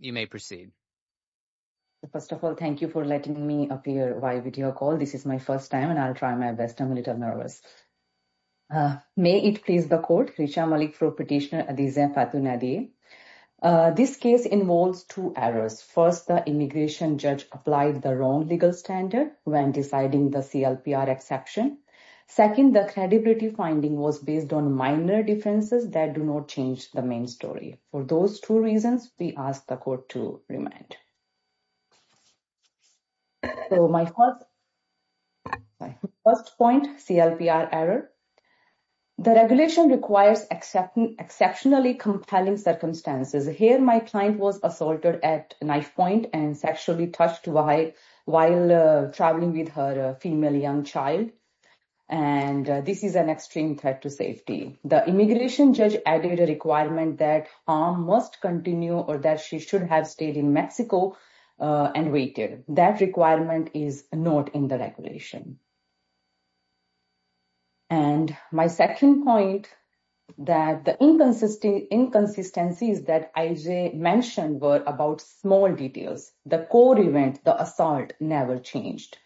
You may proceed. First of all, thank you for letting me appear via video call. This is my first time and I'll try my best. I'm a little nervous. May it please the court, Hrisham Malik for Petitioner Adhizam Fatun Nadiye. This case involves two errors. First, the immigration judge applied the wrong legal standard when deciding the CLPR exception. Second, the credibility finding was based on minor differences that do not change the main story. For those two reasons, we ask the court to remand. So my first point, CLPR error. The regulation requires exceptionally compelling circumstances. Here, my client was assaulted at knife point and sexually touched while traveling with her female young child. And this is an extreme threat to safety. The immigration judge added a requirement that arm must continue or that she should have stayed in Mexico and waited. That requirement is not in the regulation. And my second point, that the inconsistencies that Ajay mentioned were about small details. The core event, the assault never changed.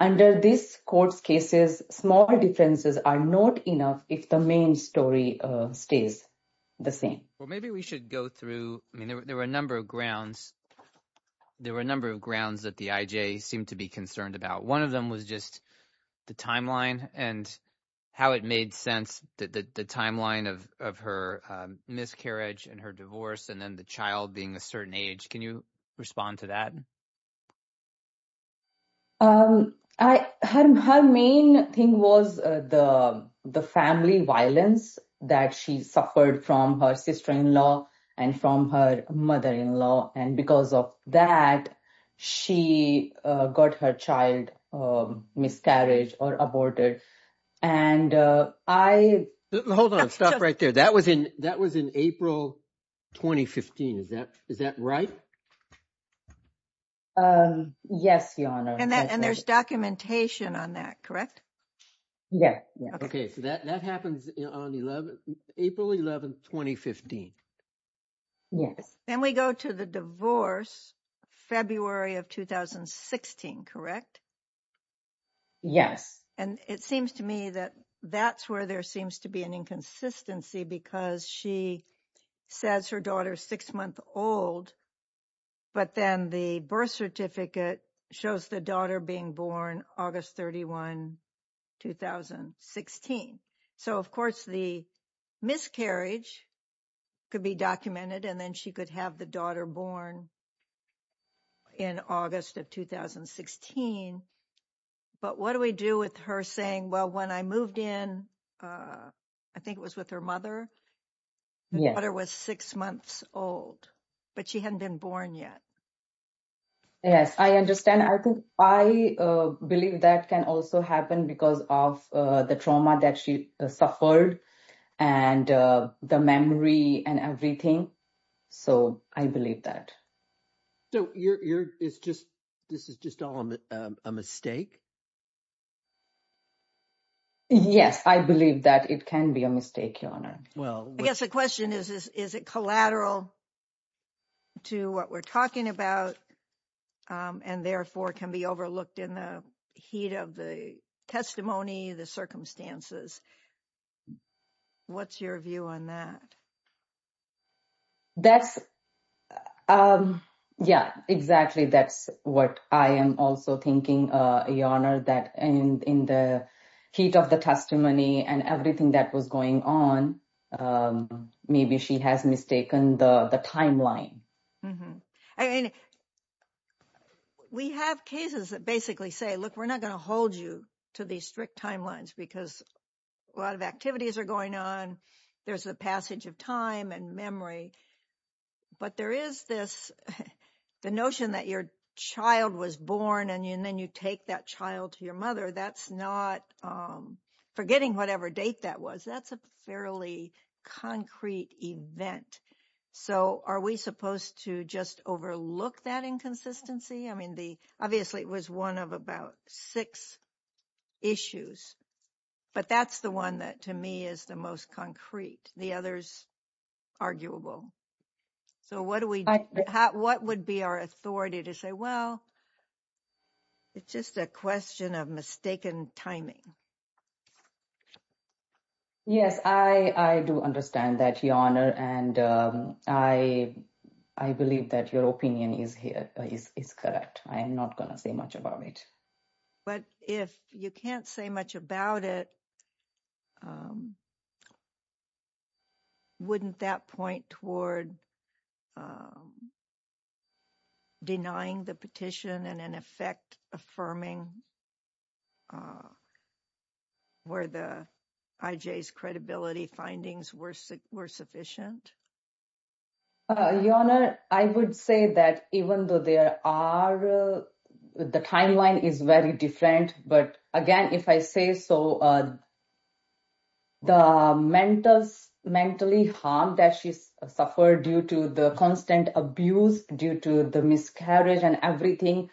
Under this court's cases, small differences are not enough if the main story stays the same. Well, maybe we should go through. I mean, there were a number of grounds. There were a number of grounds that the Ajay seemed to be concerned about. One of them was just the timeline and how it made sense that the timeline of her miscarriage and her divorce and then the child being a certain age. Can you respond to that? Um, I had my main thing was the the family violence that she suffered from her sister-in-law and from her mother-in-law. And because of that, she got her child miscarriage or aborted. And I. Hold on. Stop right there. That was in that was in April 2015. Is that is that right? Yes, Your Honor. And there's documentation on that, correct? Yes. OK, so that that happens on the 11th, April 11th, 2015. Yes. Then we go to the divorce, February of 2016, correct? Yes. And it seems to me that that's where there seems to be an inconsistency because she says her daughter is six months old. But then the birth certificate shows the daughter being born August 31, 2016. So, of course, the miscarriage could be documented and then she could have the daughter born. In August of 2016. But what do we do with her saying, well, when I moved in, I think it was with her mother. Yeah, there was six months old, but she hadn't been born yet. Yes, I understand. I think I believe that can also happen because of the trauma that she suffered and the memory and everything. So I believe that. So you're it's just this is just a mistake. Yes, I believe that it can be a mistake, Your Honor. Well, I guess the question is, is it collateral to what we're talking about and therefore can be overlooked in the heat of the testimony, the circumstances? What's your view on that? That's, yeah, exactly. That's what I am also thinking, Your Honor, that in the heat of the testimony and everything that was going on, maybe she has mistaken the timeline. I mean, we have cases that basically say, look, we're not going to hold you to these strict timelines because a lot of activities are going on. There's the passage of time and memory. But there is this the notion that your child was born and then you take that child to your mother. That's not forgetting whatever date that was. That's a fairly concrete event. So are we supposed to just overlook that inconsistency? I mean, the obviously it was one of about six issues, but that's the one that to me is the most concrete. The other is arguable. So what would be our authority to say, well, it's just a question of mistaken timing. Yes, I do understand that, Your Honor, and I believe that your opinion is correct. I am not going to say much about it. But if you can't say much about it, wouldn't that point toward denying the petition and in effect affirming where the IJ's credibility findings were sufficient? Your Honor, I would say that even though there are the timeline is very different. But again, if I say so, the mentors mentally harmed that she suffered due to the constant abuse due to the miscarriage and everything,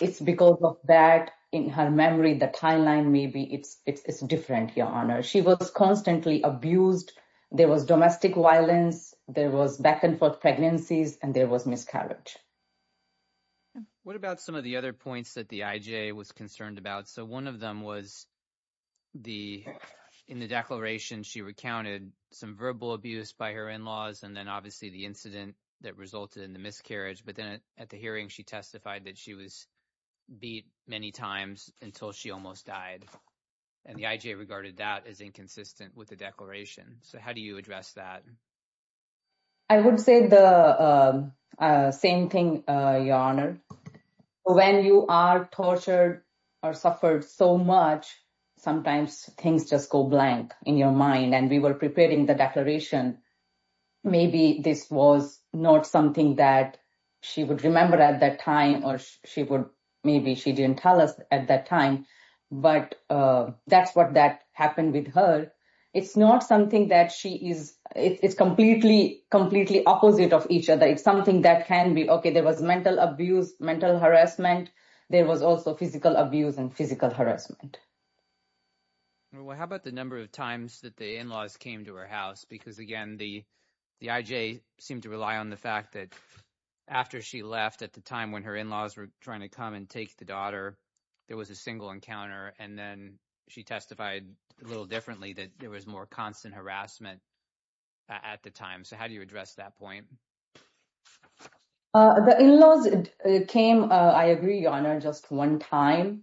it's because of that in her memory, the timeline, maybe it's different. Your Honor, she was constantly abused. There was domestic violence. There was back and forth pregnancies and there was miscarriage. What about some of the other points that the IJ was concerned about? So one of them was the in the declaration, she recounted some verbal abuse by her in-laws and then obviously the incident that resulted in the miscarriage. But then at the hearing, she testified that she was beat many times until she almost died. And the IJ regarded that as inconsistent with the declaration. So how do you address that? I would say the same thing, Your Honor. When you are tortured or suffered so much, sometimes things just go blank in your mind. And we were preparing the declaration. Maybe this was not something that she would remember at that time or maybe she didn't tell us at that time, but that's what happened with her. It's not something that she is, it's completely, completely opposite of each other. It's something that can be, okay, there was mental abuse, mental harassment. There was also physical abuse and physical harassment. Well, how about the number of times that the in-laws came to her house? Because again, the IJ seemed to rely on the fact that after she left at the time when her in-laws were trying to come and take the daughter, there was a single encounter. And then she testified a little differently that there was more constant harassment at the time. So how do you address that point? The in-laws came, I agree, Your Honor, just one time,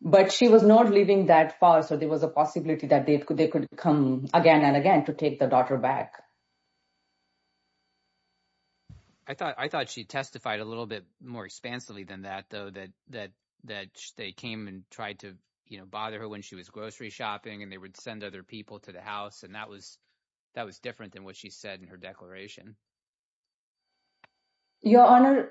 but she was not living that far. So there was a possibility that they could come again and again to take the daughter back. I thought she testified a little bit more expansively than that, though, that they came and tried to bother her when she was grocery shopping and they would send other people to the house. And that was different than what she said in her declaration. Your Honor,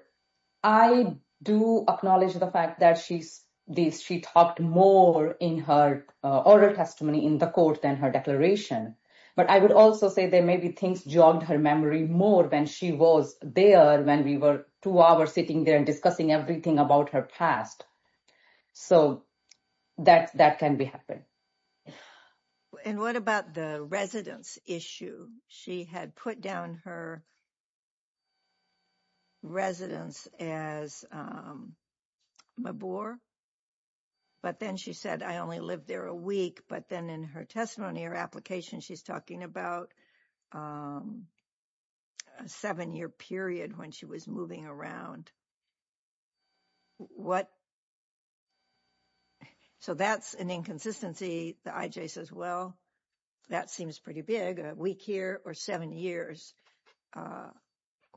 I do acknowledge the fact that she talked more in her oral testimony in the court than her declaration. But I would also say there may be things jogged her memory more when she was there, when we were two hours sitting there and discussing everything about her past. So that can be happening. And what about the residence issue? She had put down her residence as Mabor, but then she said, I only lived there a week. But then in her testimony or application, she's talking about a seven-year period when she was moving around. What? So that's an inconsistency. The IJ says, well, that seems pretty big, a week here or seven years.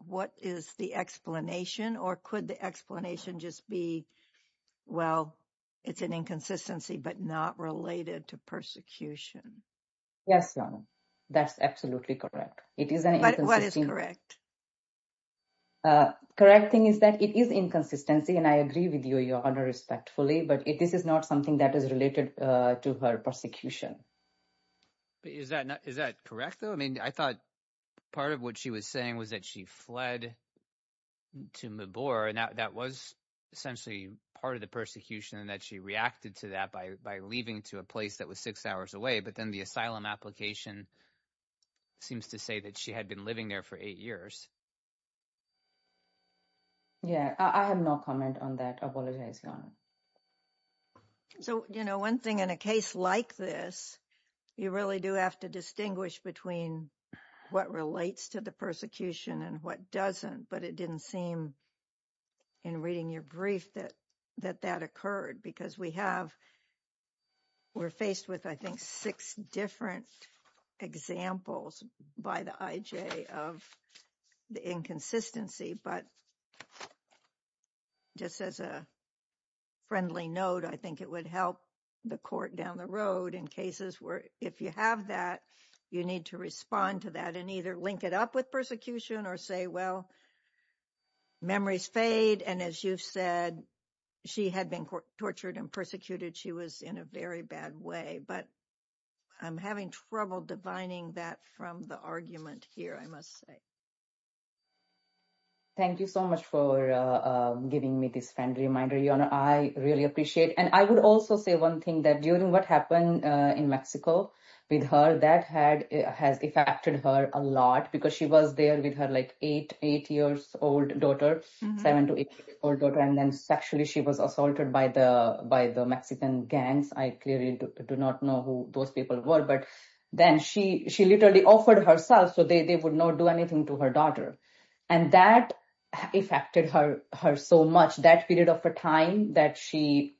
What is the explanation or could the explanation just be, well, it's an inconsistency, but not related to persecution? Yes, Your Honor, that's absolutely correct. What is correct? Correct thing is that it is inconsistency and I agree with you, Your Honor, respectfully, but this is not something that is related to her persecution. Is that correct, though? I mean, I thought part of what she was saying was that she fled to Mabor and that was essentially part of the persecution and that she reacted to that by leaving to a place that was six hours away, but then the asylum application seems to say that she had been living there for eight years. Yeah, I have no comment on that. I apologize, Your Honor. So, you know, one thing in a case like this, you really do have to distinguish between what relates to the persecution and what doesn't, but it didn't seem in reading your brief that that occurred because we have, we're faced with, I think, six different examples by the IJ of the inconsistency, but just as a friendly note, I think it would help the court down the road in cases where if you have that, you need to respond to that and either link it up with persecution or say, well, memories fade. And as you've said, she had been tortured and persecuted. She was in a very bad way, but I'm having trouble divining that from the argument here, I must say. Thank you so much for giving me this friendly reminder, Your Honor. I really appreciate it. And I would also say one thing that during what happened in Mexico with her, that has affected her a lot because she was there with her like eight, eight years old daughter, seven to eight old daughter, and then sexually she was assaulted by the Mexican gangs. I clearly do not know who those people were, but then she literally offered herself so they would not do anything to her daughter. And that affected her so much, that period of time that she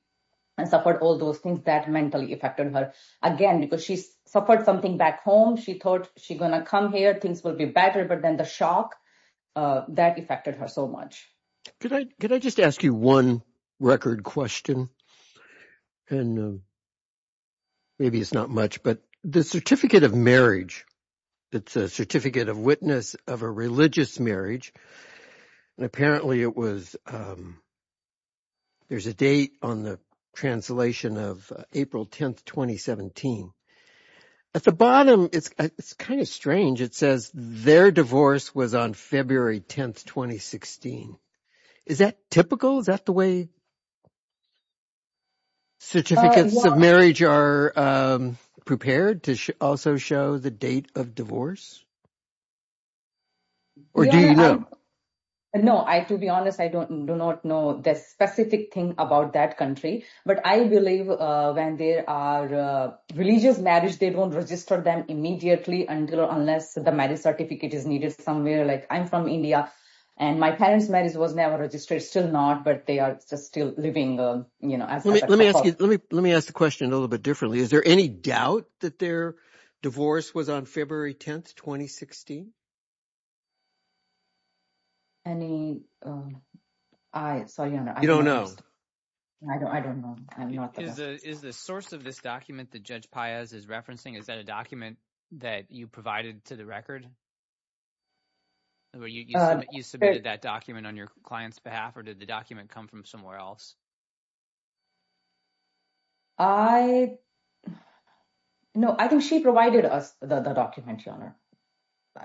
suffered all those things that mentally affected her again because she suffered something back home. She thought she's going to come here, things will be better, but then the shock that affected her so much. Could I just ask you one record question? And maybe it's not much, but the certificate of marriage, it's a certificate of witness of a religious marriage. And apparently it was, there's a date on the translation of April 10th, 2017. At the bottom, it's kind of strange. It says their divorce was on February 10th, 2016. Is that typical? Is that the way certificates of marriage are prepared to also show the date of divorce? Or do you know? No, I, to be honest, I do not know the specific thing about that country, but I believe when there are religious marriage, they don't register them immediately until unless the marriage certificate is needed somewhere. Like I'm from India and my parents' marriage was never registered, still not, but they are still living, you know. Let me ask you, let me, let me ask the question a little bit differently. Is there any doubt that their divorce was on February 10th, 2016? Any, I saw you on it. I don't know. I don't know. I'm not the best. Is the source of this document that Judge Paez is referencing, is that a document that you provided to the record? You submitted that document on your client's behalf or did the document come from somewhere else? I, no, I think she provided us the document, Your Honor.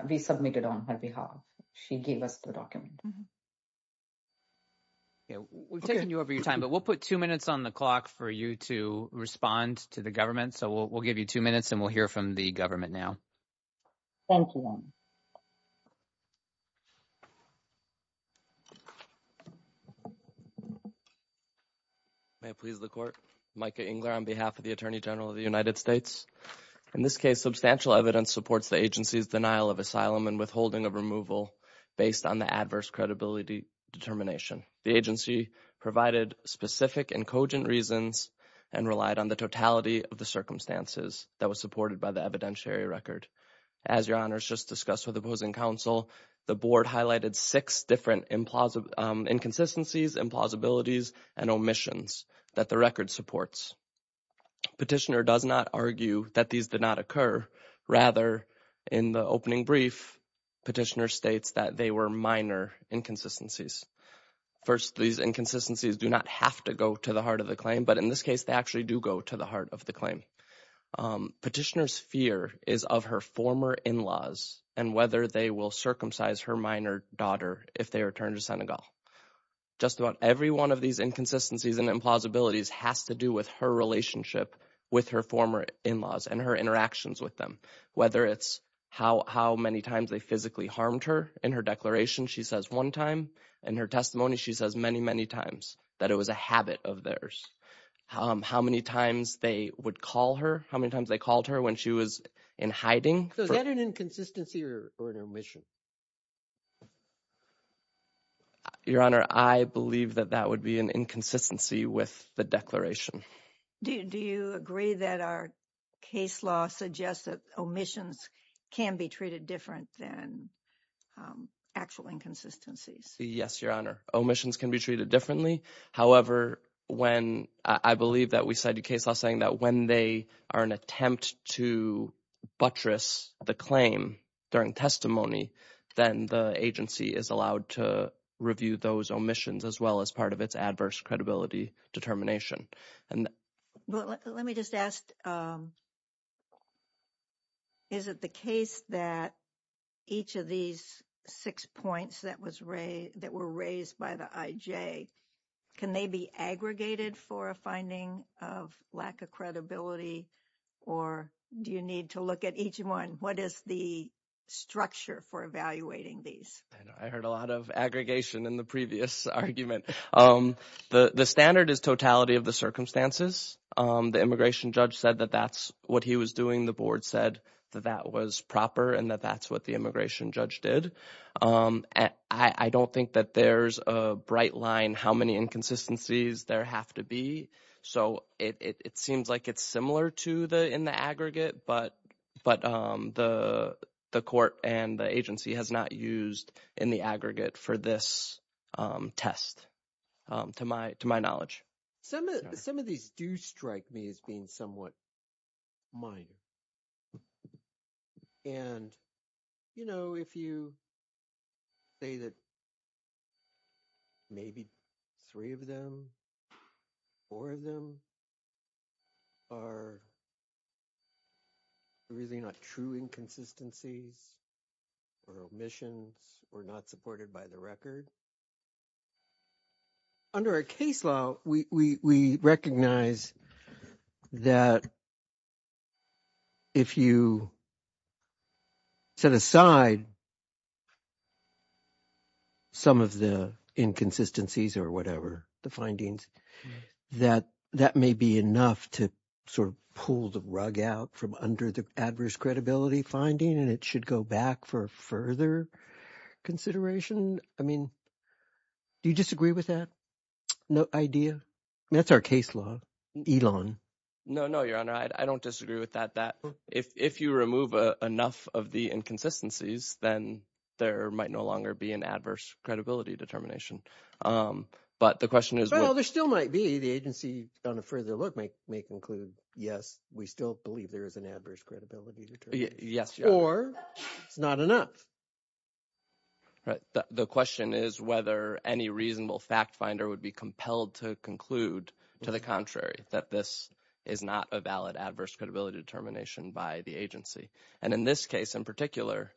We submitted on her behalf. She gave us the document. We're taking you over your time, but we'll put two minutes on the clock for you to respond to the government. So we'll give you two minutes and we'll hear from the government now. Thank you, Your Honor. May it please the Court. Micah Engler on behalf of the Attorney General of the United States. In this case, substantial evidence supports the agency's denial of asylum and withholding of removal based on the adverse credibility determination. The agency provided specific and cogent reasons and relied on the totality of the circumstances that was supported by the evidentiary record. As Your Honor has just discussed with opposing counsel, the board that the record supports. Petitioner does not argue that these did not occur. Rather, in the opening brief, Petitioner states that they were minor inconsistencies. First, these inconsistencies do not have to go to the heart of the claim, but in this case, they actually do go to the heart of the claim. Petitioner's fear is of her former in-laws and whether they will circumcise her minor daughter if they return to Senegal. Just about every one of these inconsistencies and implausibilities has to do with her relationship with her former in-laws and her interactions with them. Whether it's how many times they physically harmed her in her declaration, she says one time. In her testimony, she says many, many times that it was a habit of theirs. How many times they would call her, how many times they called her when she was in hiding. So is that an inconsistency or an omission? Your Honor, I believe that that would be an inconsistency with the declaration. Do you agree that our case law suggests that omissions can be treated different than actual inconsistencies? Yes, Your Honor. Omissions can be treated differently. However, when I believe that we cited case law saying that when they are an attempt to buttress the claim during testimony, then the agency is allowed to review those omissions as well as part of its adverse credibility determination. Let me just ask, is it the case that each of these six points that were raised by the IJ, can they be aggregated for a finding of lack of credibility or do you need to look at each one? What is the structure for evaluating these? I heard a lot of aggregation in the previous argument. The standard is totality of the circumstances. The immigration judge said that that's what he was doing. The board said that that was proper and that that's what the line, how many inconsistencies there have to be. So, it seems like it's similar to the in the aggregate, but the court and the agency has not used in the aggregate for this test to my knowledge. Some of these do strike me as being somewhat minor. And, you know, if you say that maybe three of them, four of them are really not true inconsistencies or omissions or not supported by the record. So, under a case law, we recognize that if you set aside some of the inconsistencies or whatever, the findings, that that may be enough to sort of pull the rug out from under the adverse credibility finding and it should go back for further consideration. I mean, do you disagree with that idea? That's our case law, Elon. No, no, your honor. I don't disagree with that, that if you remove enough of the inconsistencies, then there might no longer be an adverse credibility determination. But the question is, well, there still might be the agency on a further look may include, yes, we still believe there is an adverse credibility. Yes, or it's not enough. Right. The question is whether any reasonable fact finder would be compelled to conclude to the contrary, that this is not a valid adverse credibility determination by the agency. And in this case in particular,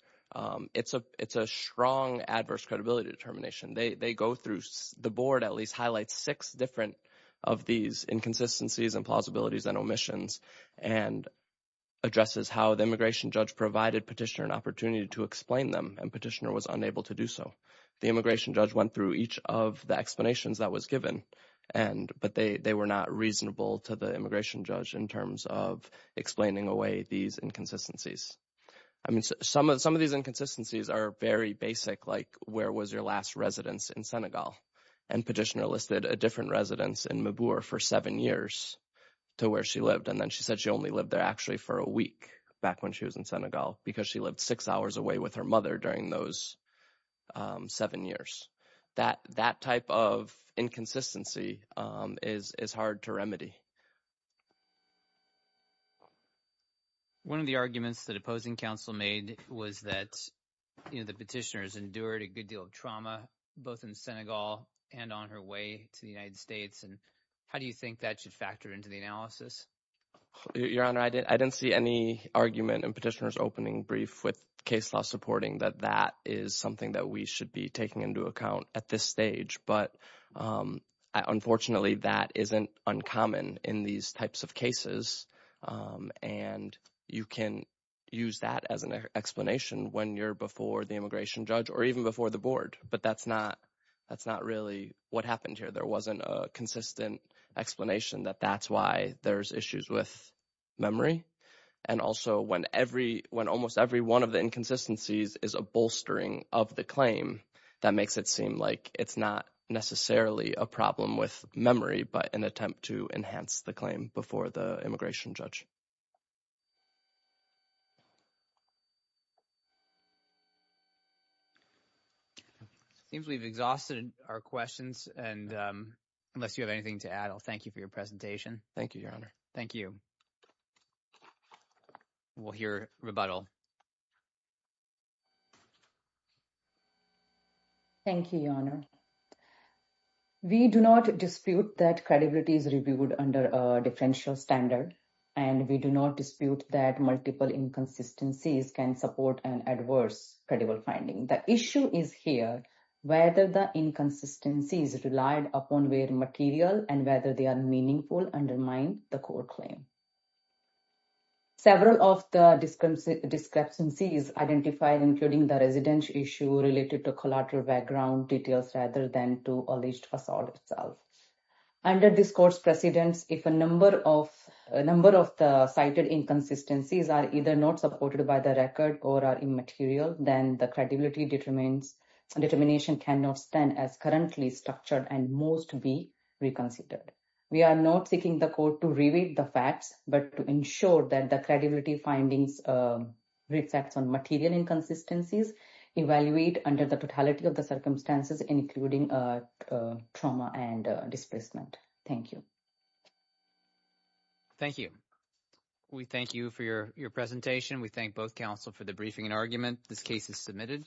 it's a it's a strong adverse credibility determination. They go through the board, at least highlight six different of these inconsistencies and omissions and addresses how the immigration judge provided petitioner an opportunity to explain them. And petitioner was unable to do so. The immigration judge went through each of the explanations that was given. And but they were not reasonable to the immigration judge in terms of explaining away these inconsistencies. I mean, some of some of these inconsistencies are very basic, like where was your last residence in Senegal? And petitioner listed a different residence in Mabour for seven years to where she lived. And then she said she only lived there actually for a week back when she was in Senegal because she lived six hours away with her mother during those seven years. That that type of inconsistency is is hard to remedy. One of the arguments that opposing counsel made was that the petitioners endured a good deal of both in Senegal and on her way to the United States. And how do you think that should factor into the analysis? Your Honor, I didn't see any argument and petitioners opening brief with case law supporting that that is something that we should be taking into account at this stage. But unfortunately, that isn't uncommon in these types of cases. And you can use that as an explanation when you're before the immigration judge or even before the board. But that's not that's not really what happened here. There wasn't a consistent explanation that that's why there's issues with memory. And also, when every when almost every one of the inconsistencies is a bolstering of the claim, that makes it seem like it's not necessarily a problem with memory, but an attempt to enhance the claim before the immigration judge. It seems we've exhausted our questions. And unless you have anything to add, I'll thank you for your presentation. Thank you, Your Honor. Thank you. We'll hear rebuttal. Thank you, Your Honor. We do not dispute that credibility is reviewed under a differential standard. And we do not dispute that multiple inconsistencies can support the claim. And we do not dispute that multiple inconsistencies can support an adverse credible finding. The issue is here, whether the inconsistencies relied upon where material and whether they are meaningful undermine the court claim. Several of the discrepancies identified, including the residential issue related to collateral background details, rather than to alleged assault itself. Under this court's precedence, if a number of a number of the inconsistencies are either not supported by the record or are immaterial, then the credibility determines determination cannot stand as currently structured and most be reconsidered. We are not seeking the court to review the facts, but to ensure that the credibility findings reflects on material inconsistencies, evaluate under the totality of the circumstances, including trauma and displacement. Thank you. Thank you. We thank you for your presentation. We thank both counsel for the briefing and argument. This case is submitted.